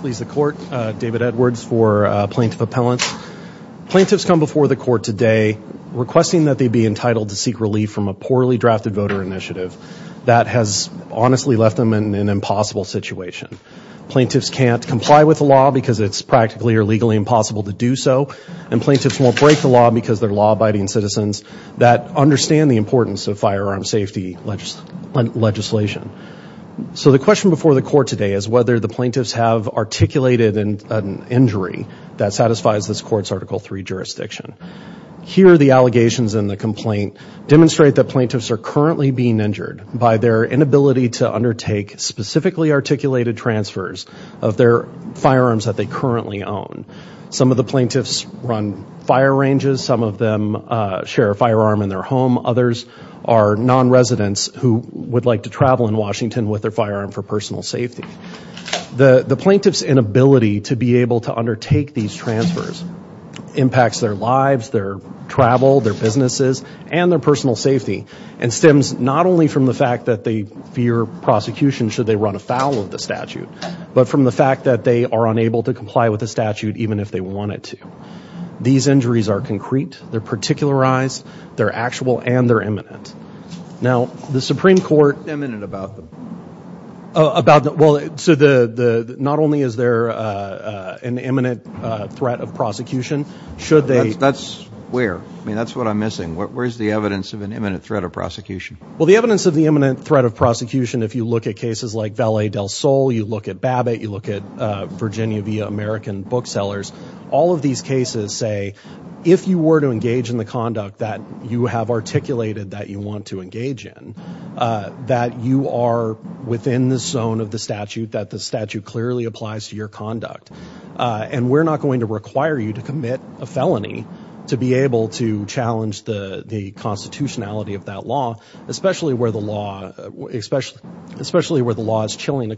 Please the court David Edwards for plaintiff appellants. Plaintiffs come before the court today requesting that they be entitled to seek relief from a poorly drafted voter initiative that has honestly left them in an impossible situation. Plaintiffs can't comply with the law because it's practically or legally impossible to do so and plaintiffs won't break the law because they're law-abiding citizens that understand the importance of firearm safety legislation. So the question before the court today is whether the plaintiffs have articulated an injury that satisfies this court's article 3 jurisdiction. Here the allegations in the complaint demonstrate that plaintiffs are currently being injured by their inability to undertake specifically articulated transfers of their firearms that they currently own. Some of the plaintiffs run fire ranges, some of them share a firearm in their home, others are non-residents who would like to travel in Washington with their firearm for personal safety. The the plaintiff's inability to be able to undertake these transfers impacts their lives, their travel, their businesses, and their personal safety and stems not only from the fact that they fear prosecution should they run afoul of the statute but from the fact that they are unable to comply with the statute even if they wanted to. These injuries are concrete, they're particularized, they're actual, and they're imminent. Now the Supreme Court... What's imminent about them? About them, well, so the the not only is there an imminent threat of prosecution should they... That's where? I mean that's what I'm missing. Where's the evidence of an imminent threat of prosecution? Well the evidence of the imminent threat of prosecution if you look at cases like Vallee del Sol, you look at Babbitt, you look at Virginia via American booksellers, all of these cases say if you were to engage in the conduct that you have articulated that you want to engage in, that you are within the zone of the statute, that the statute clearly applies to your conduct, and we're not going to require you to commit a felony to be able to challenge the the constitutionality of that law, especially where the law is chilling the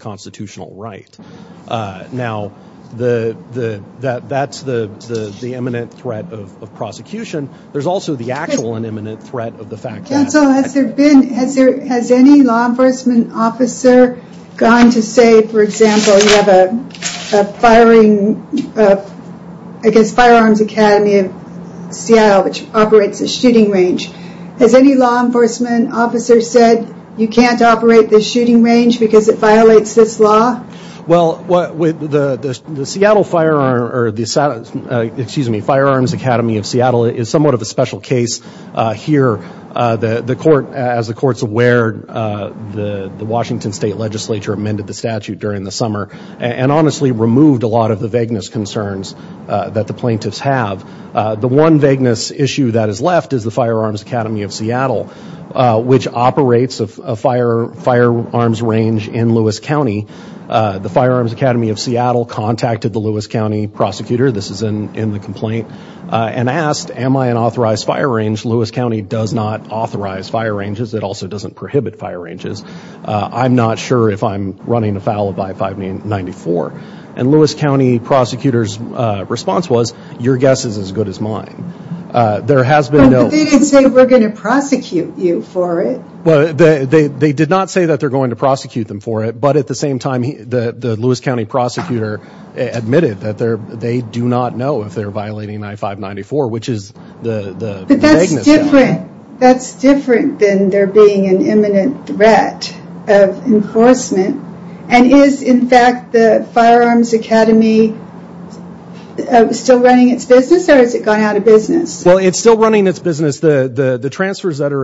prosecution, there's also the actual and imminent threat of the fact that... Counsel, has there been, has there, has any law enforcement officer gone to say, for example, you have a firing, I guess, Firearms Academy of Seattle, which operates a shooting range. Has any law enforcement officer said you can't operate the shooting range because it violates this law? Well, what with the Firearms Academy of Seattle is somewhat of a special case here. The court, as the court's aware, the Washington State Legislature amended the statute during the summer and honestly removed a lot of the vagueness concerns that the plaintiffs have. The one vagueness issue that is left is the Firearms Academy of Seattle, which operates a firearms range in Lewis County. The Firearms Academy of Seattle contacted the Lewis County prosecutor, this is in the complaint, and asked, am I an authorized fire range? Lewis County does not authorize fire ranges. It also doesn't prohibit fire ranges. I'm not sure if I'm running afoul of I-594. And Lewis County prosecutor's response was, your guess is as good as mine. There has been no... But they didn't say we're going to prosecute you for it. Well, they did not say that they're going to prosecute them for it, but at the same time, the Lewis County prosecutor admitted that they do not know if they're violating I-594, which is the vagueness. But that's different than there being an imminent threat of enforcement. And is, in fact, the Firearms Academy still running its business or has it gone out of business? Well, it's still running its business. The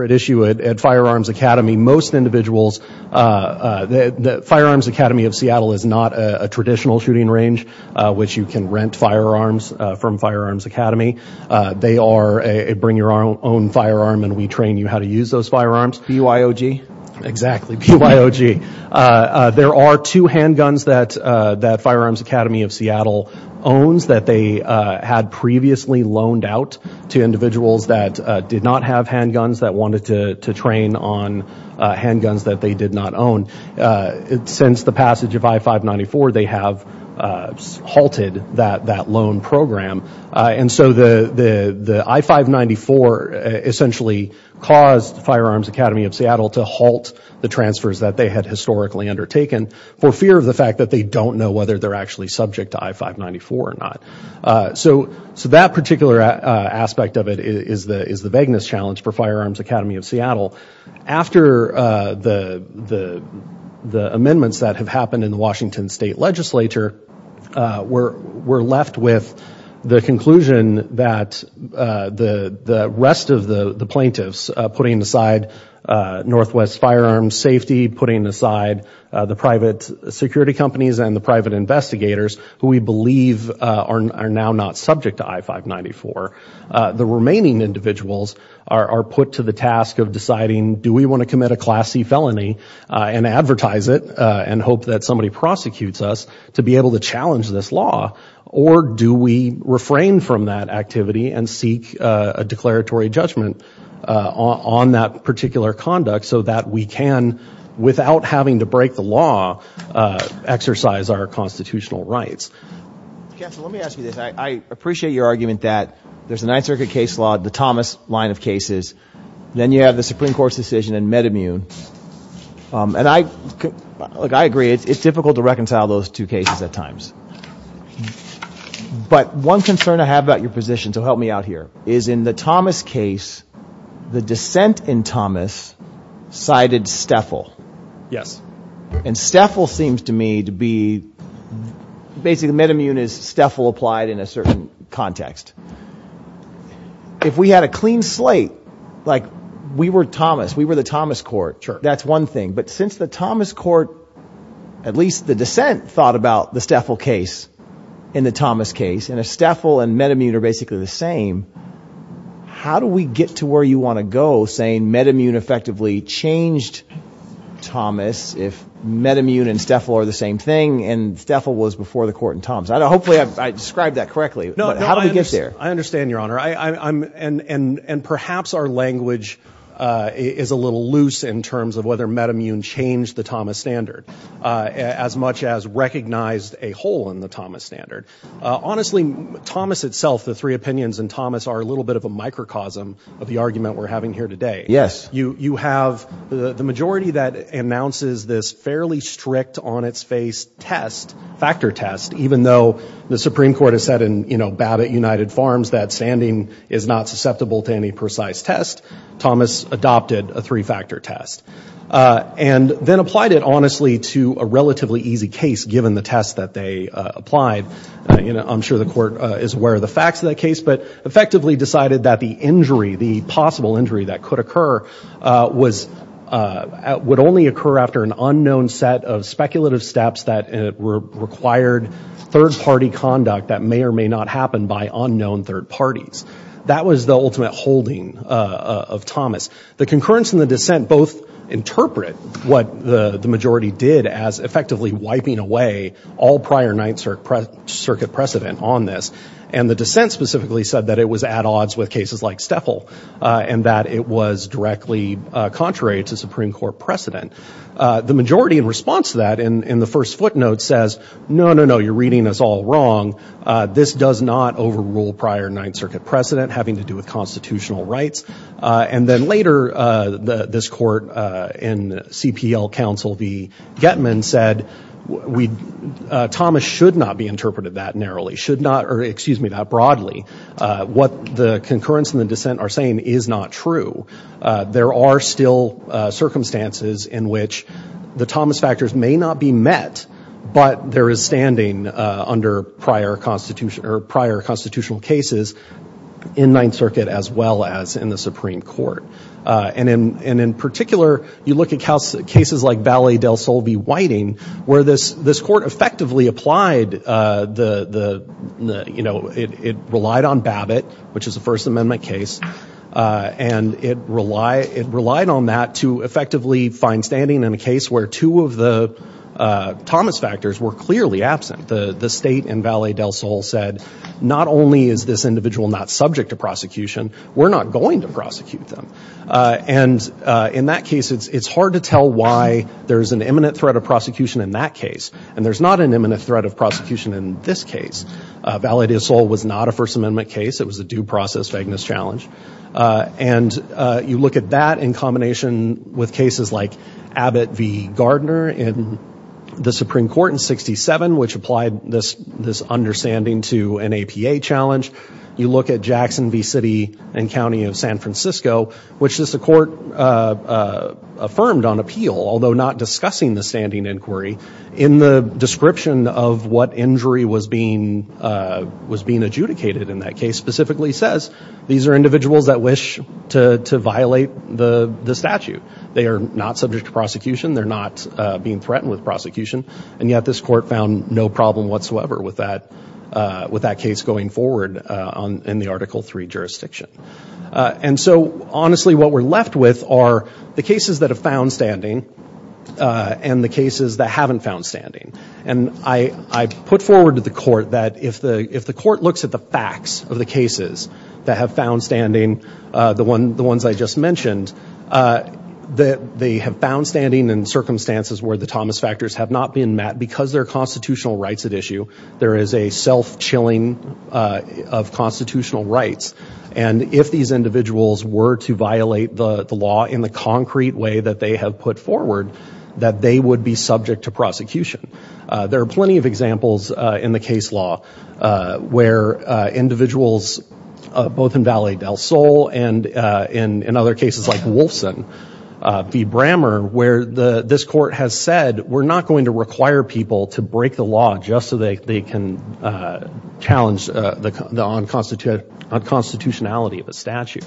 issue at Firearms Academy, most individuals... The Firearms Academy of Seattle is not a traditional shooting range, which you can rent firearms from Firearms Academy. They are a bring-your-own-firearm-and-we-train-you-how-to-use-those-firearms, B-U-I-O-G. Exactly, B-U-I-O-G. There are two handguns that that Firearms Academy of Seattle owns that they had previously loaned out to individuals that did not have hand to train on handguns that they did not own. Since the passage of I-594, they have halted that loan program. And so the I-594 essentially caused Firearms Academy of Seattle to halt the transfers that they had historically undertaken for fear of the fact that they don't know whether they're actually subject to I-594 or not. So that particular aspect of it is the vagueness challenge for Firearms Academy of Seattle. After the amendments that have happened in the Washington State Legislature, we're left with the conclusion that the rest of the plaintiffs, putting aside Northwest Firearms Safety, putting aside the private security companies and the private investigators, who we believe are now not subject to I-594. The remaining individuals are put to the task of deciding, do we want to commit a Class C felony and advertise it and hope that somebody prosecutes us to be able to challenge this law? Or do we refrain from that activity and seek a declaratory judgment on that particular conduct so that we can, without having to break the law, exercise our constitutional rights? I appreciate your argument that there's a Ninth Circuit case law, the Thomas line of cases. Then you have the Supreme Court's decision in MedImmune. I agree, it's difficult to reconcile those two cases at times. But one concern I have about your position, so help me out here, is in the Thomas case, the dissent in Thomas cited STFL. And STFL seems to me to be, basically MedImmune is STFL applied in a certain context. If we had a clean slate, like we were Thomas, we were the Thomas court, that's one thing. But since the Thomas court, at least the dissent, thought about the STFL case in the Thomas case, and if STFL and MedImmune are basically the same, how do we get to where you want to go saying MedImmune effectively changed Thomas if MedImmune and STFL are the same thing, and STFL was before the court in Thomas? Hopefully I described that correctly. How do we get there? I understand, Your Honor. And perhaps our language is a little loose in terms of whether MedImmune changed the Thomas standard, as much as recognized a hole in the Thomas standard. Honestly, Thomas itself, the three opinions in Thomas, are a little bit of a microcosm of the argument we're having here today. You have the majority that announces this fairly strict, on-its-face test, factor test, even though the Supreme Court has said in, you know, Babbitt United Farms that standing is not susceptible to any precise test, Thomas adopted a three-factor test, and then applied it, honestly, to a relatively easy case, given the test that they applied. You know, I'm sure the court is aware of the facts of that case, but effectively decided that the injury, the injury that would occur, would only occur after an unknown set of speculative steps that required third-party conduct that may or may not happen by unknown third parties. That was the ultimate holding of Thomas. The concurrence in the dissent both interpret what the majority did as effectively wiping away all prior Ninth Circuit precedent on this, and the dissent specifically said that it was directly contrary to Supreme Court precedent. The majority, in response to that, in the first footnote says, no, no, no, you're reading us all wrong. This does not overrule prior Ninth Circuit precedent, having to do with constitutional rights. And then later, this court in CPL counsel, V. Getman, said Thomas should not be interpreted that narrowly, should not, or excuse me, broadly. What the concurrence and the dissent are saying is not true. There are still circumstances in which the Thomas factors may not be met, but there is standing under prior constitutional cases in Ninth Circuit, as well as in the Supreme Court. And in particular, you look at cases like Vallée del Sol v. Whiting, where this court effectively applied the, you know, it relied on Babbitt, which is a First Amendment case, and it relied on that to effectively find standing in a case where two of the Thomas factors were clearly absent. The state in Vallée del Sol said, not only is this individual not subject to prosecution, we're not going to prosecute them. And in that case, it's an imminent threat of prosecution in that case. And there's not an imminent threat of prosecution in this case. Vallée del Sol was not a First Amendment case. It was a due process Fagnus challenge. And you look at that in combination with cases like Abbott v. Gardner in the Supreme Court in 67, which applied this understanding to an APA challenge. You look at Jackson v. City and County of San Francisco, which is the court affirmed on appeal, although not discussing the standing inquiry, in the description of what injury was being adjudicated in that case, specifically says, these are individuals that wish to violate the statute. They are not subject to prosecution. They're not being threatened with prosecution. And yet, this court found no problem whatsoever with that case going forward in the Article 3 jurisdiction. And so, honestly, what we're left with are the cases that have found standing and the cases that haven't found standing. And I put forward to the court that if the court looks at the facts of the cases that have found standing, the ones I just mentioned, that they have found standing in circumstances where the Thomas factors have not been met. Because there are constitutional rights at issue, there is a self-chilling of constitutional rights. And if these individuals were to violate the law in the concrete way that they have put forward, that they would be subject to prosecution. There are plenty of examples in the case law where individuals, both in Valley del Sol and in other cases like Wolfson v. Brammer, where this court has said, we're not going to require people to break the law just so they can challenge the constitutionality of a statute.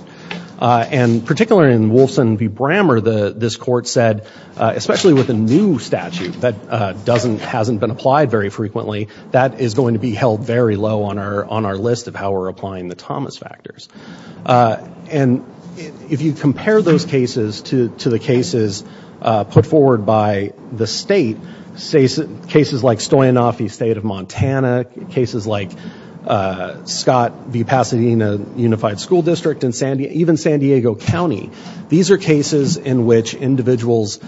And particularly in Wolfson v. Brammer, this court said, especially with a new statute that hasn't been applied very frequently, that is going to be held very low on our list of how we're applying the Thomas factors. And if you compare those cases to the cases put forward by the state, cases like Stoyanoff v. State of Montana, cases like Scott v. Pasadena Unified School District in San Diego, even San Diego County, these are cases in which individuals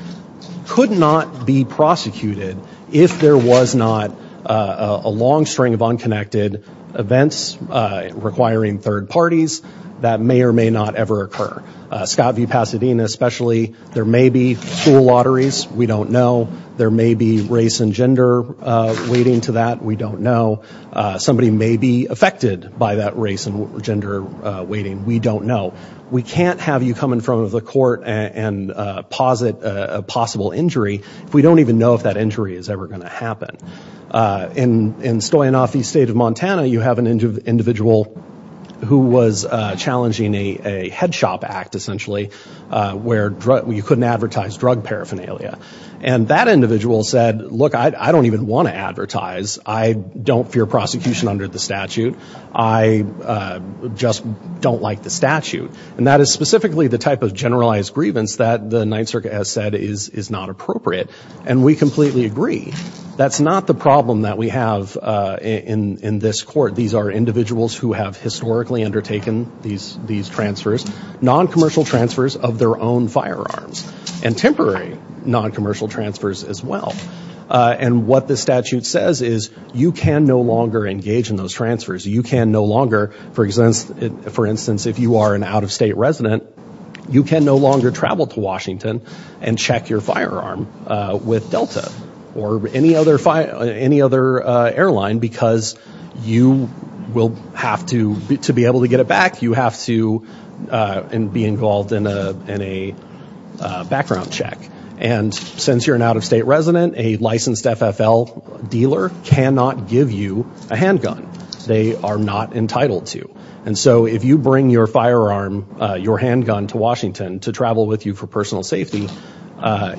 could not be prosecuted if there was not a long string of unconnected events requiring third parties that may or may not ever occur. Scott v. Pasadena especially, there may be school lotteries, we don't know. There may be race and gender waiting to that, we don't know. Somebody may be affected by that race and gender waiting, we don't know. We can't have you come in front of the court and posit a possible injury if we don't even know if that injury is ever going to happen. In Stoyanoff v. State of Montana, you have an individual who was challenging a head shop act essentially, where you couldn't advertise drug paraphernalia. And that I don't even want to advertise. I don't fear prosecution under the statute. I just don't like the statute. And that is specifically the type of generalized grievance that the Ninth Circuit has said is not appropriate. And we completely agree. That's not the problem that we have in this court. These are individuals who have historically undertaken these transfers, non-commercial transfers of their own firearms, and temporary non-commercial transfers as well. And what the statute says is you can no longer engage in those transfers. You can no longer, for instance, if you are an out-of-state resident, you can no longer travel to Washington and check your firearm with Delta or any other airline because you will have to, to be able to get it back, you have to be involved in a background check. And since you're an out-of-state resident, a licensed FFL dealer cannot give you a handgun. They are not entitled to. And so if you bring your firearm, your handgun to Washington to travel with you for personal safety,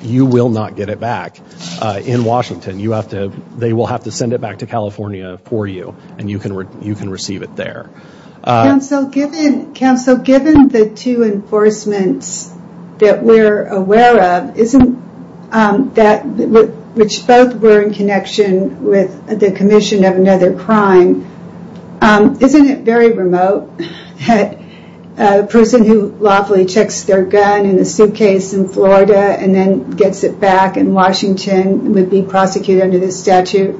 you will not get it back in Washington. You have to, they will have to send it back to California for you and you can receive it there. Counsel, given the two enforcements that we're aware of, which both were in connection with the commission of another crime, isn't it very remote that a person who lawfully checks their gun in a suitcase in Florida and then gets it back in Washington would be prosecuted under this statute?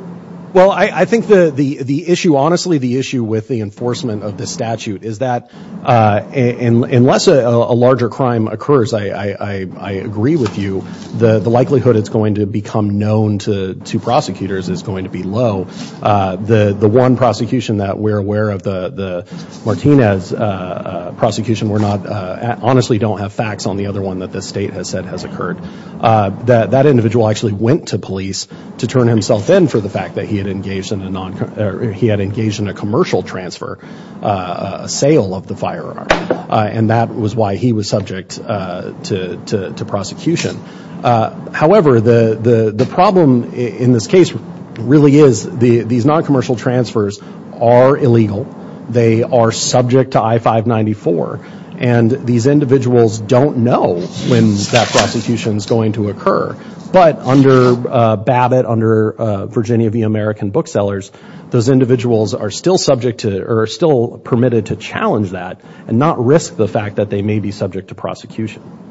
Well, I think the issue, honestly, the issue with the enforcement of the statute is that unless a larger crime occurs, I agree with you, the likelihood it's going to become known to prosecutors is going to be low. The one prosecution that we're aware of, the Martinez prosecution, we're not, honestly don't have facts on the other one that the state has said has occurred. That individual actually went to police to turn himself in for the fact that he had engaged in a commercial transfer, a sale of the firearm, and that was why he was subject to prosecution. However, the problem in this case really is these non-commercial transfers are illegal. They are subject to I-594 and these individuals don't know when that prosecution is going to occur, but under Babbitt, under Virginia v. American Booksellers, those individuals are still subject to or are still permitted to challenge that and not risk the fact that they may be subject to prosecution.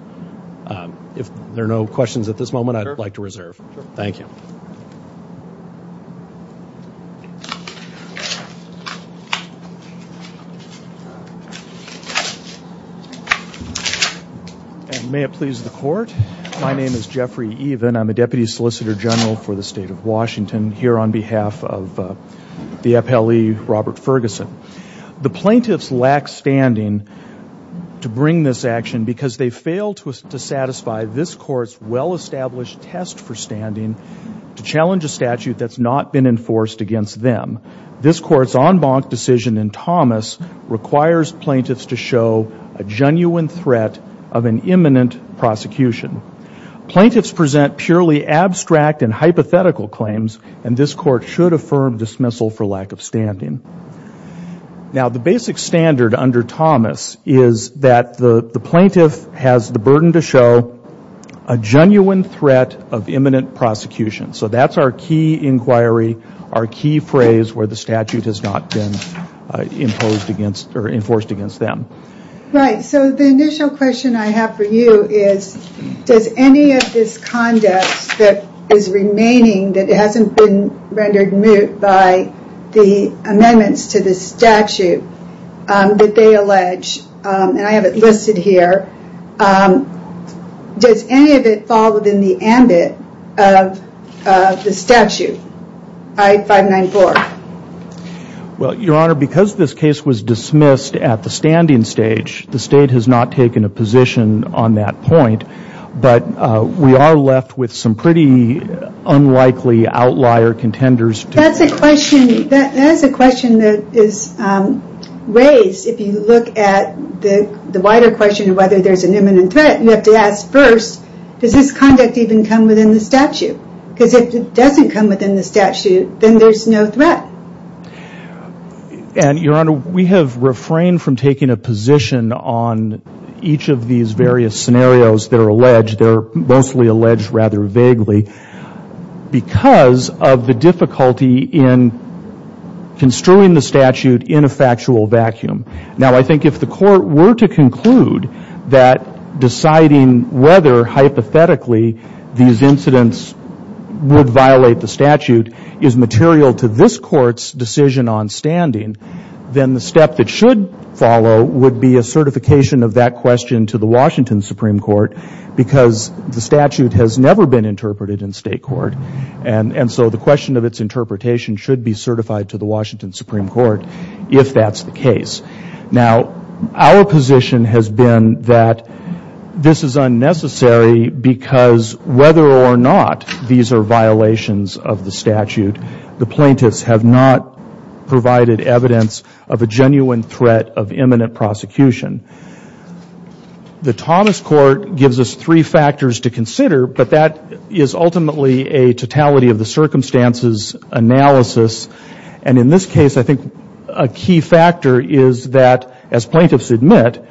If there are no questions at this moment, I'd like to reserve. Thank you. And may it please the court, my name is Jeffrey Even. I'm a deputy solicitor general for the state of Washington here on behalf of the FLE Robert Ferguson. The plaintiffs lack standing to bring this action because they failed to satisfy this court's well-established test for standing to challenge a statute that's not been enforced against them. This court's en banc decision in Thomas requires plaintiffs to show a genuine threat of an imminent prosecution. Plaintiffs present purely abstract and hypothetical claims and this court should affirm dismissal for lack of standing. Now the basic standard under Thomas is that the the plaintiff has the burden to show a genuine threat of imminent prosecution. So that's our key inquiry, our key phrase where the statute has not been imposed against or enforced against them. Right, so the initial question I have for you is does any of this conduct that is remaining that hasn't been rendered moot by the amendments to the statute that they allege, and I have it listed here, does any of it fall within the ambit of the Well your honor, because this case was dismissed at the standing stage, the state has not taken a position on that point, but we are left with some pretty unlikely outlier contenders. That's a question that is raised if you look at the wider question of whether there's an imminent threat, you have to ask first does this conduct even come within the statute? Because if it doesn't come within the statute, then there's no threat. And your honor, we have refrained from taking a position on each of these various scenarios that are alleged, they're mostly alleged rather vaguely, because of the difficulty in construing the statute in a factual vacuum. Now I think if the court were to conclude that deciding whether hypothetically these incidents would violate the statute is material to this court's decision on standing, then the step that should follow would be a certification of that question to the Washington Supreme Court, because the statute has never been interpreted in state court, and so the question of its interpretation should be certified to the Washington This is unnecessary because whether or not these are violations of the statute, the plaintiffs have not provided evidence of a genuine threat of imminent prosecution. The Thomas Court gives us three factors to consider, but that is ultimately a totality of the circumstances analysis, and in this case I is that, as plaintiffs admit,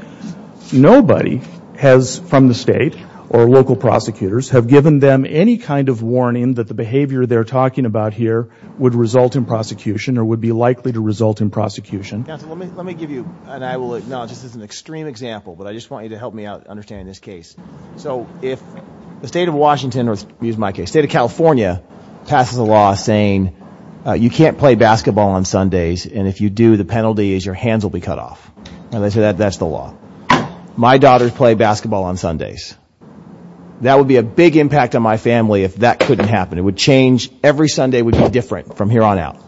nobody has, from the state or local prosecutors, have given them any kind of warning that the behavior they're talking about here would result in prosecution or would be likely to result in prosecution. Let me give you, and I will acknowledge this is an extreme example, but I just want you to help me understand this case. So if the state of Washington, or use my case, the state of California passes a law saying you can't play basketball on Sundays, and if you do the penalty is your hands will be cut off, and they say that that's the law. My daughters play basketball on Sundays. That would be a big impact on my family if that couldn't happen. It would change, every Sunday would be different from here on out.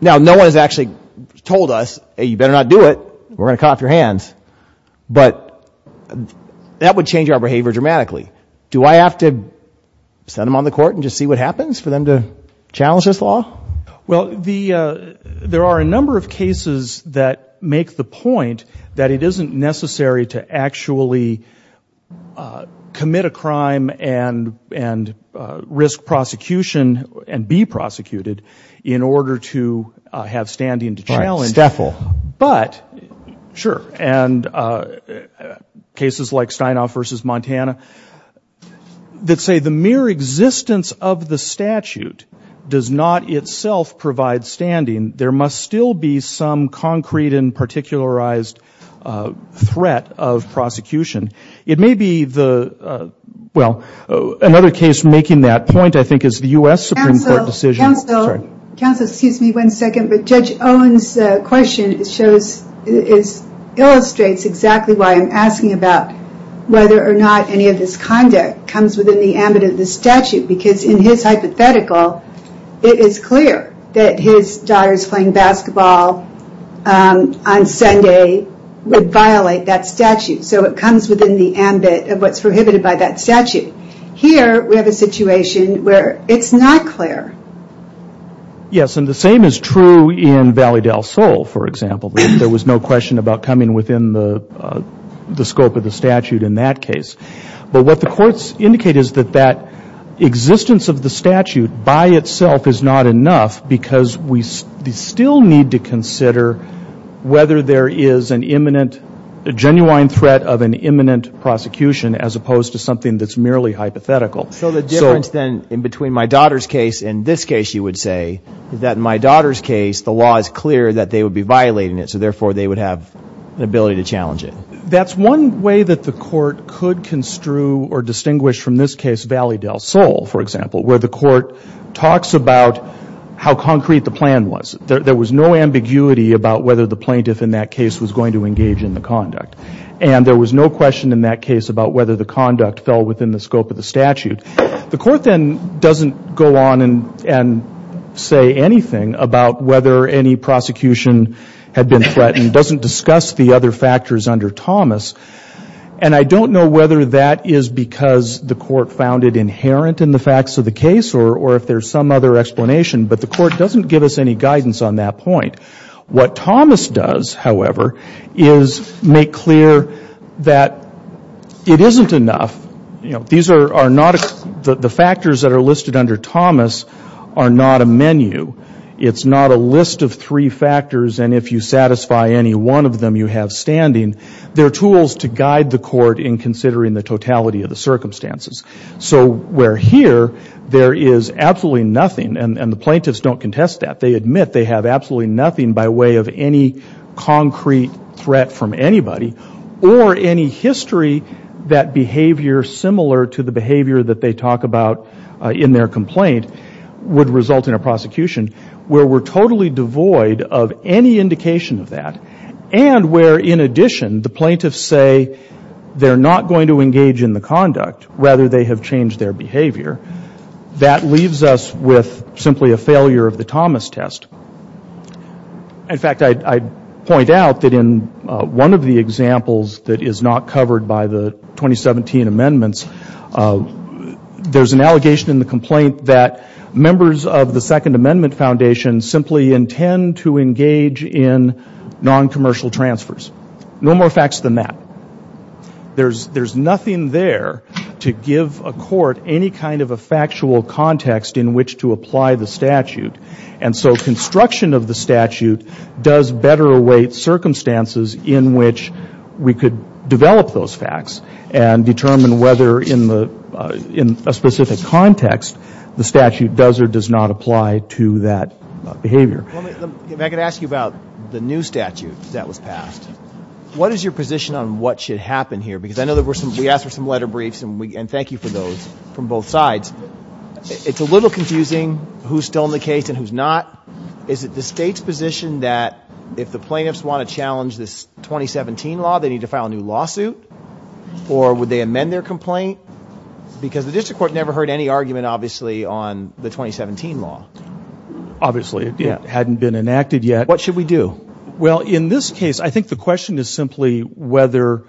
Now no one has actually told us, hey you better not do it, we're gonna cut off your hands, but that would change our behavior dramatically. Do I have to send them on the court and just see what happens for them to challenge this law? Well, there are a number of cases that make the point that it isn't necessary to actually commit a crime and risk prosecution and be prosecuted in order to have standing to challenge, but sure, and cases like Steinhoff v. Montana that say the mere existence of the statute does not itself provide standing. There must still be some concrete and particularized threat of prosecution. It may be the, well, another case making that point I think is the U.S. Supreme Court decision. Counsel, excuse me one second, but Judge Owens' question illustrates exactly why I'm asking about whether or not any of this conduct comes within the ambit of the statute, because in his hypothetical, it is clear that his daughters playing basketball on Sunday would violate that statute, so it comes within the ambit of what's prohibited by that statute. Here we have a situation where it's not clear. Yes, and the same is true in Valley Soul, for example. There was no question about coming within the scope of the statute in that case, but what the courts indicate is that that existence of the statute by itself is not enough because we still need to consider whether there is an imminent, a genuine threat of an imminent prosecution as opposed to something that's merely hypothetical. So the difference then in between my daughter's case and this case, you would say, is that in my daughter's case the law is clear that they would be violating it, so therefore they would have an ability to challenge it. That's one way that the court could construe or distinguish from this case, Valley Del Sol, for example, where the court talks about how concrete the plan was. There was no ambiguity about whether the plaintiff in that case was going to engage in the conduct, and there was no question in that case about whether the conduct fell within the scope of the statute. The court then doesn't go on and say anything about whether any prosecution had been threatened, doesn't discuss the other factors under Thomas, and I don't know whether that is because the court found it inherent in the facts of the case or if there's some other explanation, but the court doesn't give us any guidance on that point. What Thomas does, however, is make clear that it isn't enough, you know, the factors that are listed under Thomas are not a menu. It's not a list of three factors, and if you satisfy any one of them, you have standing. They're tools to guide the court in considering the totality of the circumstances. So where here there is absolutely nothing, and the plaintiffs don't contest that. They admit they have absolutely nothing by way of any concrete threat from anybody or any history that behavior similar to the behavior that they talk about in their complaint would result in a prosecution, where we're totally devoid of any indication of that, and where in addition the plaintiffs say they're not going to engage in the conduct, rather they have changed their behavior, that leaves us with simply a failure of the Thomas test. In fact, I'd point out that in one of the cases covered by the 2017 amendments, there's an allegation in the complaint that members of the Second Amendment Foundation simply intend to engage in non-commercial transfers. No more facts than that. There's nothing there to give a court any kind of a factual context in which to apply the statute, and so construction of the statute does better await circumstances in which we could develop those facts and determine whether in a specific context the statute does or does not apply to that behavior. If I could ask you about the new statute that was passed. What is your position on what should happen here? Because I know we asked for some letter briefs, and thank you for those from both sides. It's a little confusing who's still in the case and who's not. Is it the State's position that if the plaintiffs want to file a lawsuit, or would they amend their complaint? Because the District Court never heard any argument obviously on the 2017 law. Obviously, it hadn't been enacted yet. What should we do? Well, in this case, I think the question is simply whether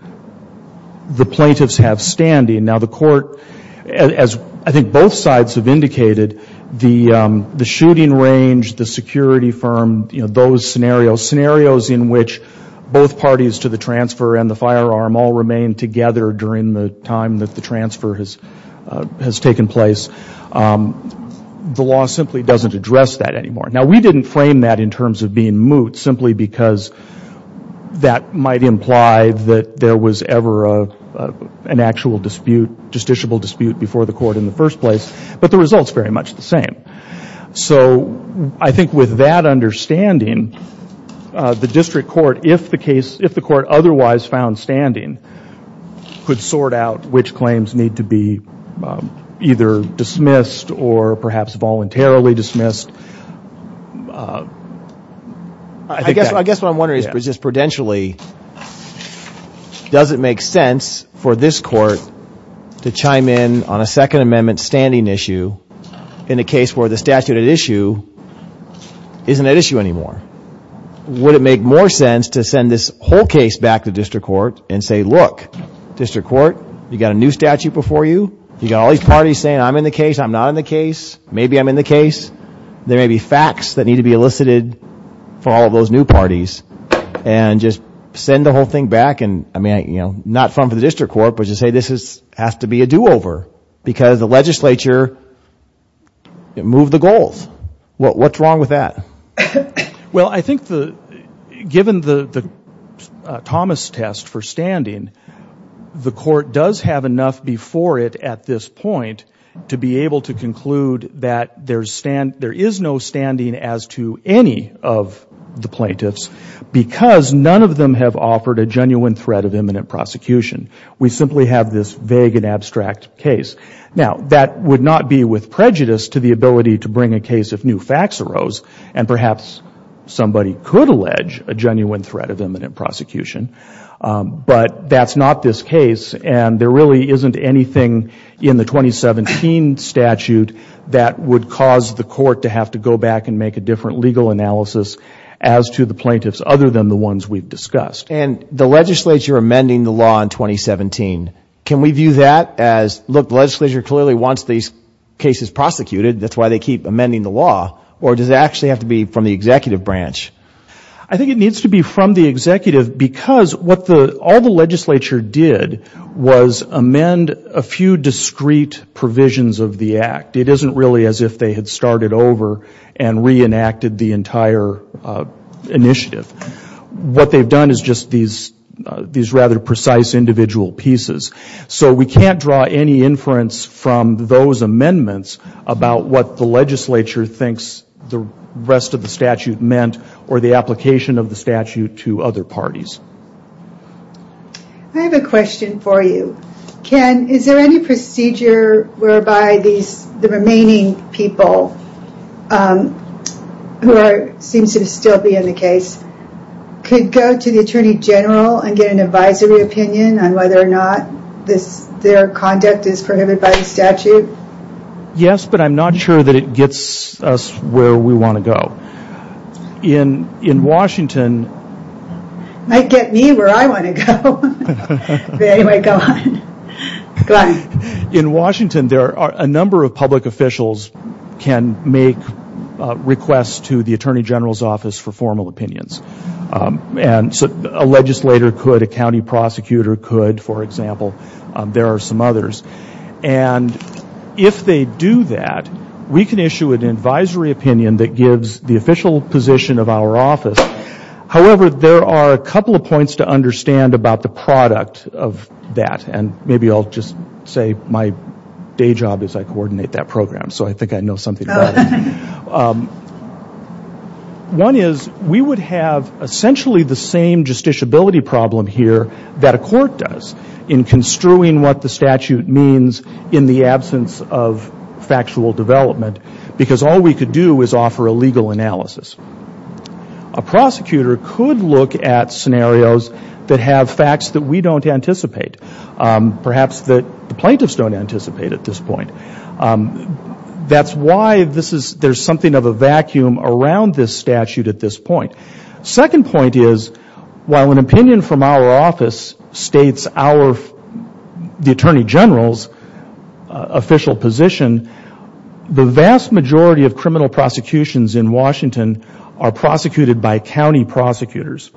the plaintiffs have standing. Now the court, as I think both sides have indicated, the shooting range, the security firm, you know, those scenarios, scenarios in which both parties to the transfer and the firearm all remain together during the time that the transfer has taken place, the law simply doesn't address that anymore. Now we didn't frame that in terms of being moot simply because that might imply that there was ever an actual dispute, justiciable dispute, before the court in the first place, but the result's very much the same. So I think with that understanding, the District Court, if the case, if the court otherwise found standing, could sort out which claims need to be either dismissed or perhaps voluntarily dismissed. I guess what I'm wondering is just prudentially, does it make sense for this court to chime in on a Second Amendment standing issue in a case where the statute at issue isn't at issue anymore? Would it make more sense to send this whole case back to District Court and say, look, District Court, you got a new statute before you, you got all these parties saying I'm in the case, I'm not in the case, maybe I'm in the case, there may be facts that need to be elicited for all those new parties, and just send the whole thing back and, I mean, you know, not from the District Court, but just say this has to be a do-over because the legislature moved the goals. What's wrong with that? Well, I think given the Thomas test for standing, the court does have enough before it at this point to be able to conclude that there is no standing as to any of the plaintiffs because none of them have offered a vague and abstract case. Now, that would not be with prejudice to the ability to bring a case if new facts arose, and perhaps somebody could allege a genuine threat of imminent prosecution, but that's not this case and there really isn't anything in the 2017 statute that would cause the court to have to go back and make a different legal analysis as to the plaintiffs other than the ones we've discussed. And the legislature amending the law in 2017, can we view that as, look, the legislature clearly wants these cases prosecuted, that's why they keep amending the law, or does it actually have to be from the executive branch? I think it needs to be from the executive because what all the legislature did was amend a few discrete provisions of the act. It isn't really as if they had started over and re-enacted the entire initiative. What they've done is just these rather precise individual pieces. So we can't draw any inference from those amendments about what the legislature thinks the rest of the statute meant or the application of the statute to other parties. I have a question for you. Ken, is there any procedure whereby the remaining people, who seem to still be in the case, could go to the Attorney General and get an advisory opinion on whether or not their conduct is prohibited by the statute? Yes, but I'm not sure that it gets us where we want to go. In Washington... It might get me where I want to go. Anyway, go on. In Washington, there are a number of public officials who can make requests to the Attorney General's office for formal opinions. And so a legislator could, a county prosecutor could, for example. There are some others. And if they do that, we can issue an advisory opinion that gives the official position of our office. However, there are a couple of points to understand about the product of that. And maybe I'll just say my day job is I coordinate that program. So I think I know something about it. One is, we would have essentially the same justiciability problem here that a court does in construing what the statute means in the absence of factual development. Because all we could do is offer a legal analysis. A prosecutor could look at scenarios that have facts that we don't anticipate. Perhaps that the plaintiffs don't anticipate at this point. That's why there's something of a vacuum around this statute at this point. Second point is, while an opinion from our office states the Attorney General's official position, the vast majority of criminal prosecutions in Washington are prosecuted by county prosecutors.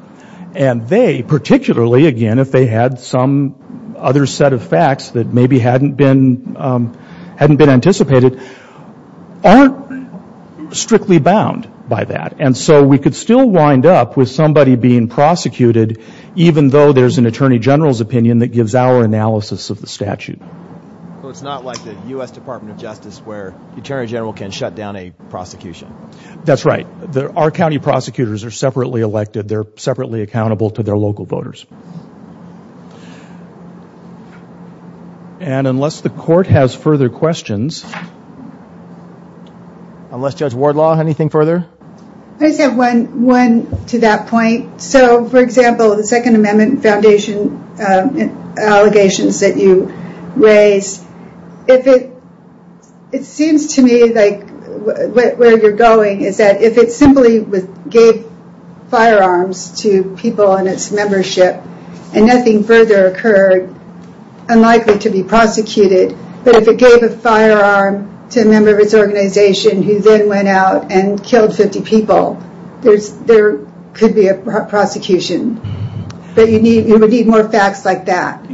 And they, particularly, again, if they had some other set of facts that maybe hadn't been, hadn't been anticipated, aren't strictly bound by that. And so we could still wind up with somebody being prosecuted, even though there's an Attorney General's opinion that gives our analysis of the statute. So it's not like the U.S. Department of Justice where the Attorney General can shut down a prosecution. That's right. Our county prosecutors are separately elected. They're separately accountable to their local voters. And unless the court has further questions, unless Judge Wardlaw, anything further? I just have one, one to that point. So, for example, the Second Amendment Foundation allegations that you raise, if it, it seems to me like where you're going is that if it simply gave firearms to people in its membership and nothing further occurred, unlikely to be prosecuted. But if it gave a firearm to a member of its organization who then went out and killed 50 people, there's, there could be a prosecution. But you need, you would need more facts like that.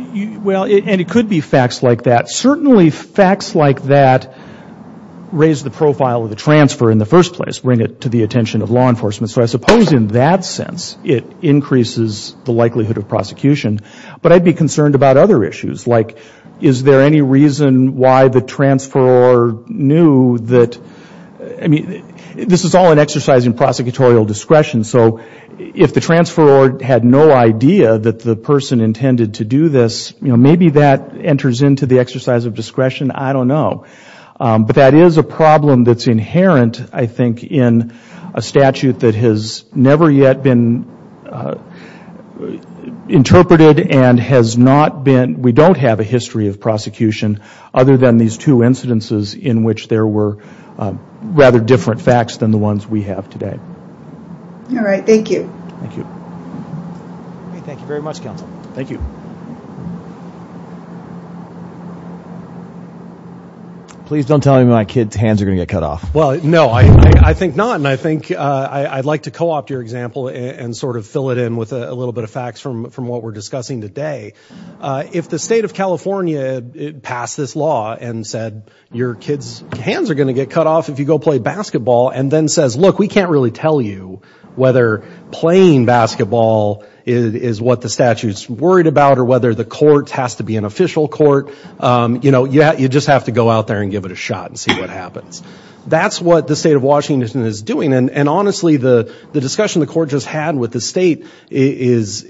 Well, and it could be facts like that. Certainly facts like that raise the issue in the first place, bring it to the attention of law enforcement. So I suppose in that sense, it increases the likelihood of prosecution. But I'd be concerned about other issues, like is there any reason why the transferor knew that, I mean, this is all an exercise in prosecutorial discretion. So if the transferor had no idea that the person intended to do this, you know, maybe that enters into the exercise of discretion. I don't know. But that is a problem that's inherent, I think, in a statute that has never yet been interpreted and has not been, we don't have a history of prosecution other than these two incidences in which there were rather different facts than the ones we have today. All right, thank you. Thank you. Thank you very much, counsel. Thank you. Please don't tell me my kids' hands are going to get cut off. Well, no, I think not. And I think I'd like to co-opt your example and sort of fill it in with a little bit of facts from what we're discussing today. If the state of California passed this law and said your kids' hands are going to get cut off if you go play basketball and then says, look, we can't really tell you whether playing basketball is what the statute's worried about or whether the state of Washington is doing. And honestly, the discussion the court just had with the state is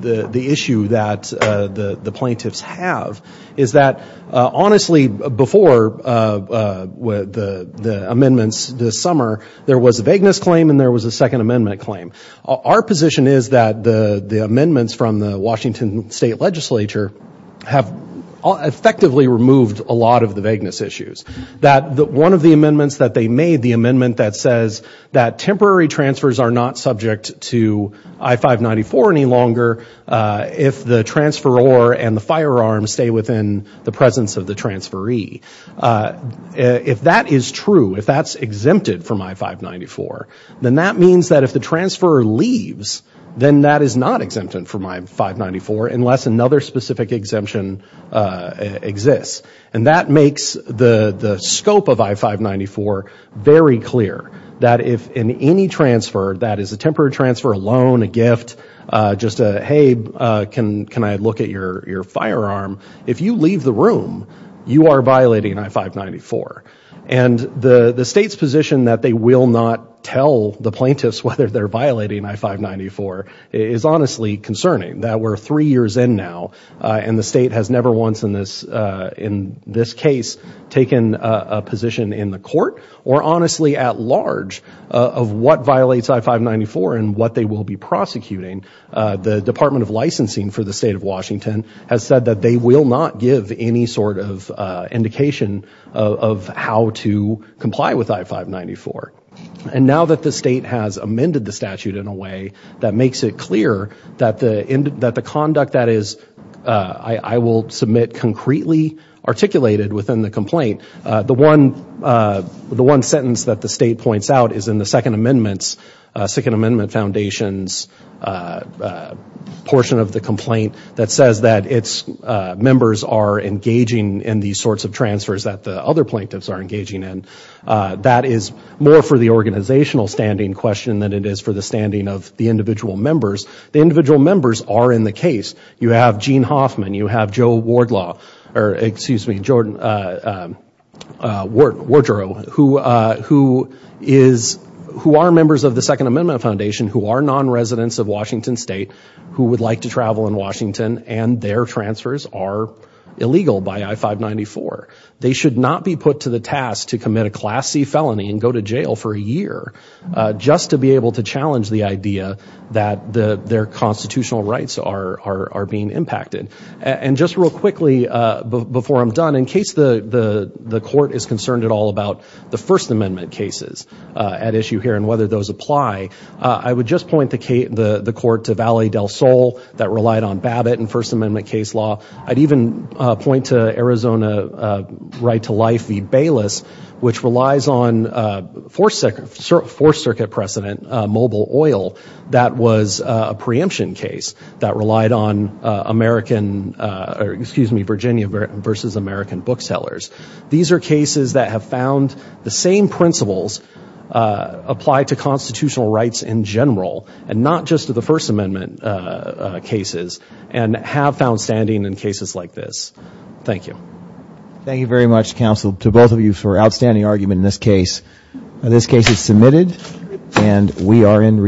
the issue that the plaintiffs have, is that, honestly, before the amendments this summer, there was a vagueness claim and there was a second amendment claim. Our position is that the amendments from the Washington state legislature have effectively removed a lot of the vagueness issues. That one of the amendments that they made, the amendment that says that temporary transfers are not subject to I-594 any longer if the transferor and the firearm stay within the presence of the transferee. If that is true, if that's exempted from I-594, then that means that if the transferor leaves, then that is not exempted from I-594 unless another specific exemption exists. And that makes the scope of I-594 very clear, that if in any transfer, that is a temporary transfer, a loan, a gift, just a, hey, can I look at your firearm? If you leave the room, you are violating I-594. And the state's position that they that we're three years in now and the state has never once in this, in this case, taken a position in the court or honestly at large of what violates I-594 and what they will be prosecuting, the Department of Licensing for the state of Washington has said that they will not give any sort of indication of how to comply with I-594. And now that the state has amended the statute in a way that the, that the conduct that is, I will submit, concretely articulated within the complaint. The one, the one sentence that the state points out is in the Second Amendment's, Second Amendment Foundation's portion of the complaint that says that its members are engaging in these sorts of transfers that the other plaintiffs are engaging in. That is more for the organizational standing question than it individual members are in the case. You have Gene Hoffman, you have Joe Wardlaw, or excuse me, Jordan Wardrow, who, who is, who are members of the Second Amendment Foundation, who are non-residents of Washington State, who would like to travel in Washington and their transfers are illegal by I-594. They should not be put to the task to commit a Class C felony and go to jail for a year just to be able to challenge the idea that the, their constitutional rights are, are, are being impacted. And just real quickly before I'm done, in case the, the, the court is concerned at all about the First Amendment cases at issue here and whether those apply, I would just point the case, the, the court to Valley del Sol that relied on Babbitt and First Amendment case law. I'd even point to Arizona Right to Life v. Bayless, which relies on Fourth Circuit, Fourth Circuit precedent mobile oil that was a preemption case that relied on American, excuse me, Virginia versus American booksellers. These are cases that have found the same principles apply to constitutional rights in general and not just to the First Amendment cases and have found standing in cases like this. Thank you. Thank you very much, counsel, to both of you for outstanding argument in this case. This case is submitted and we are in recess.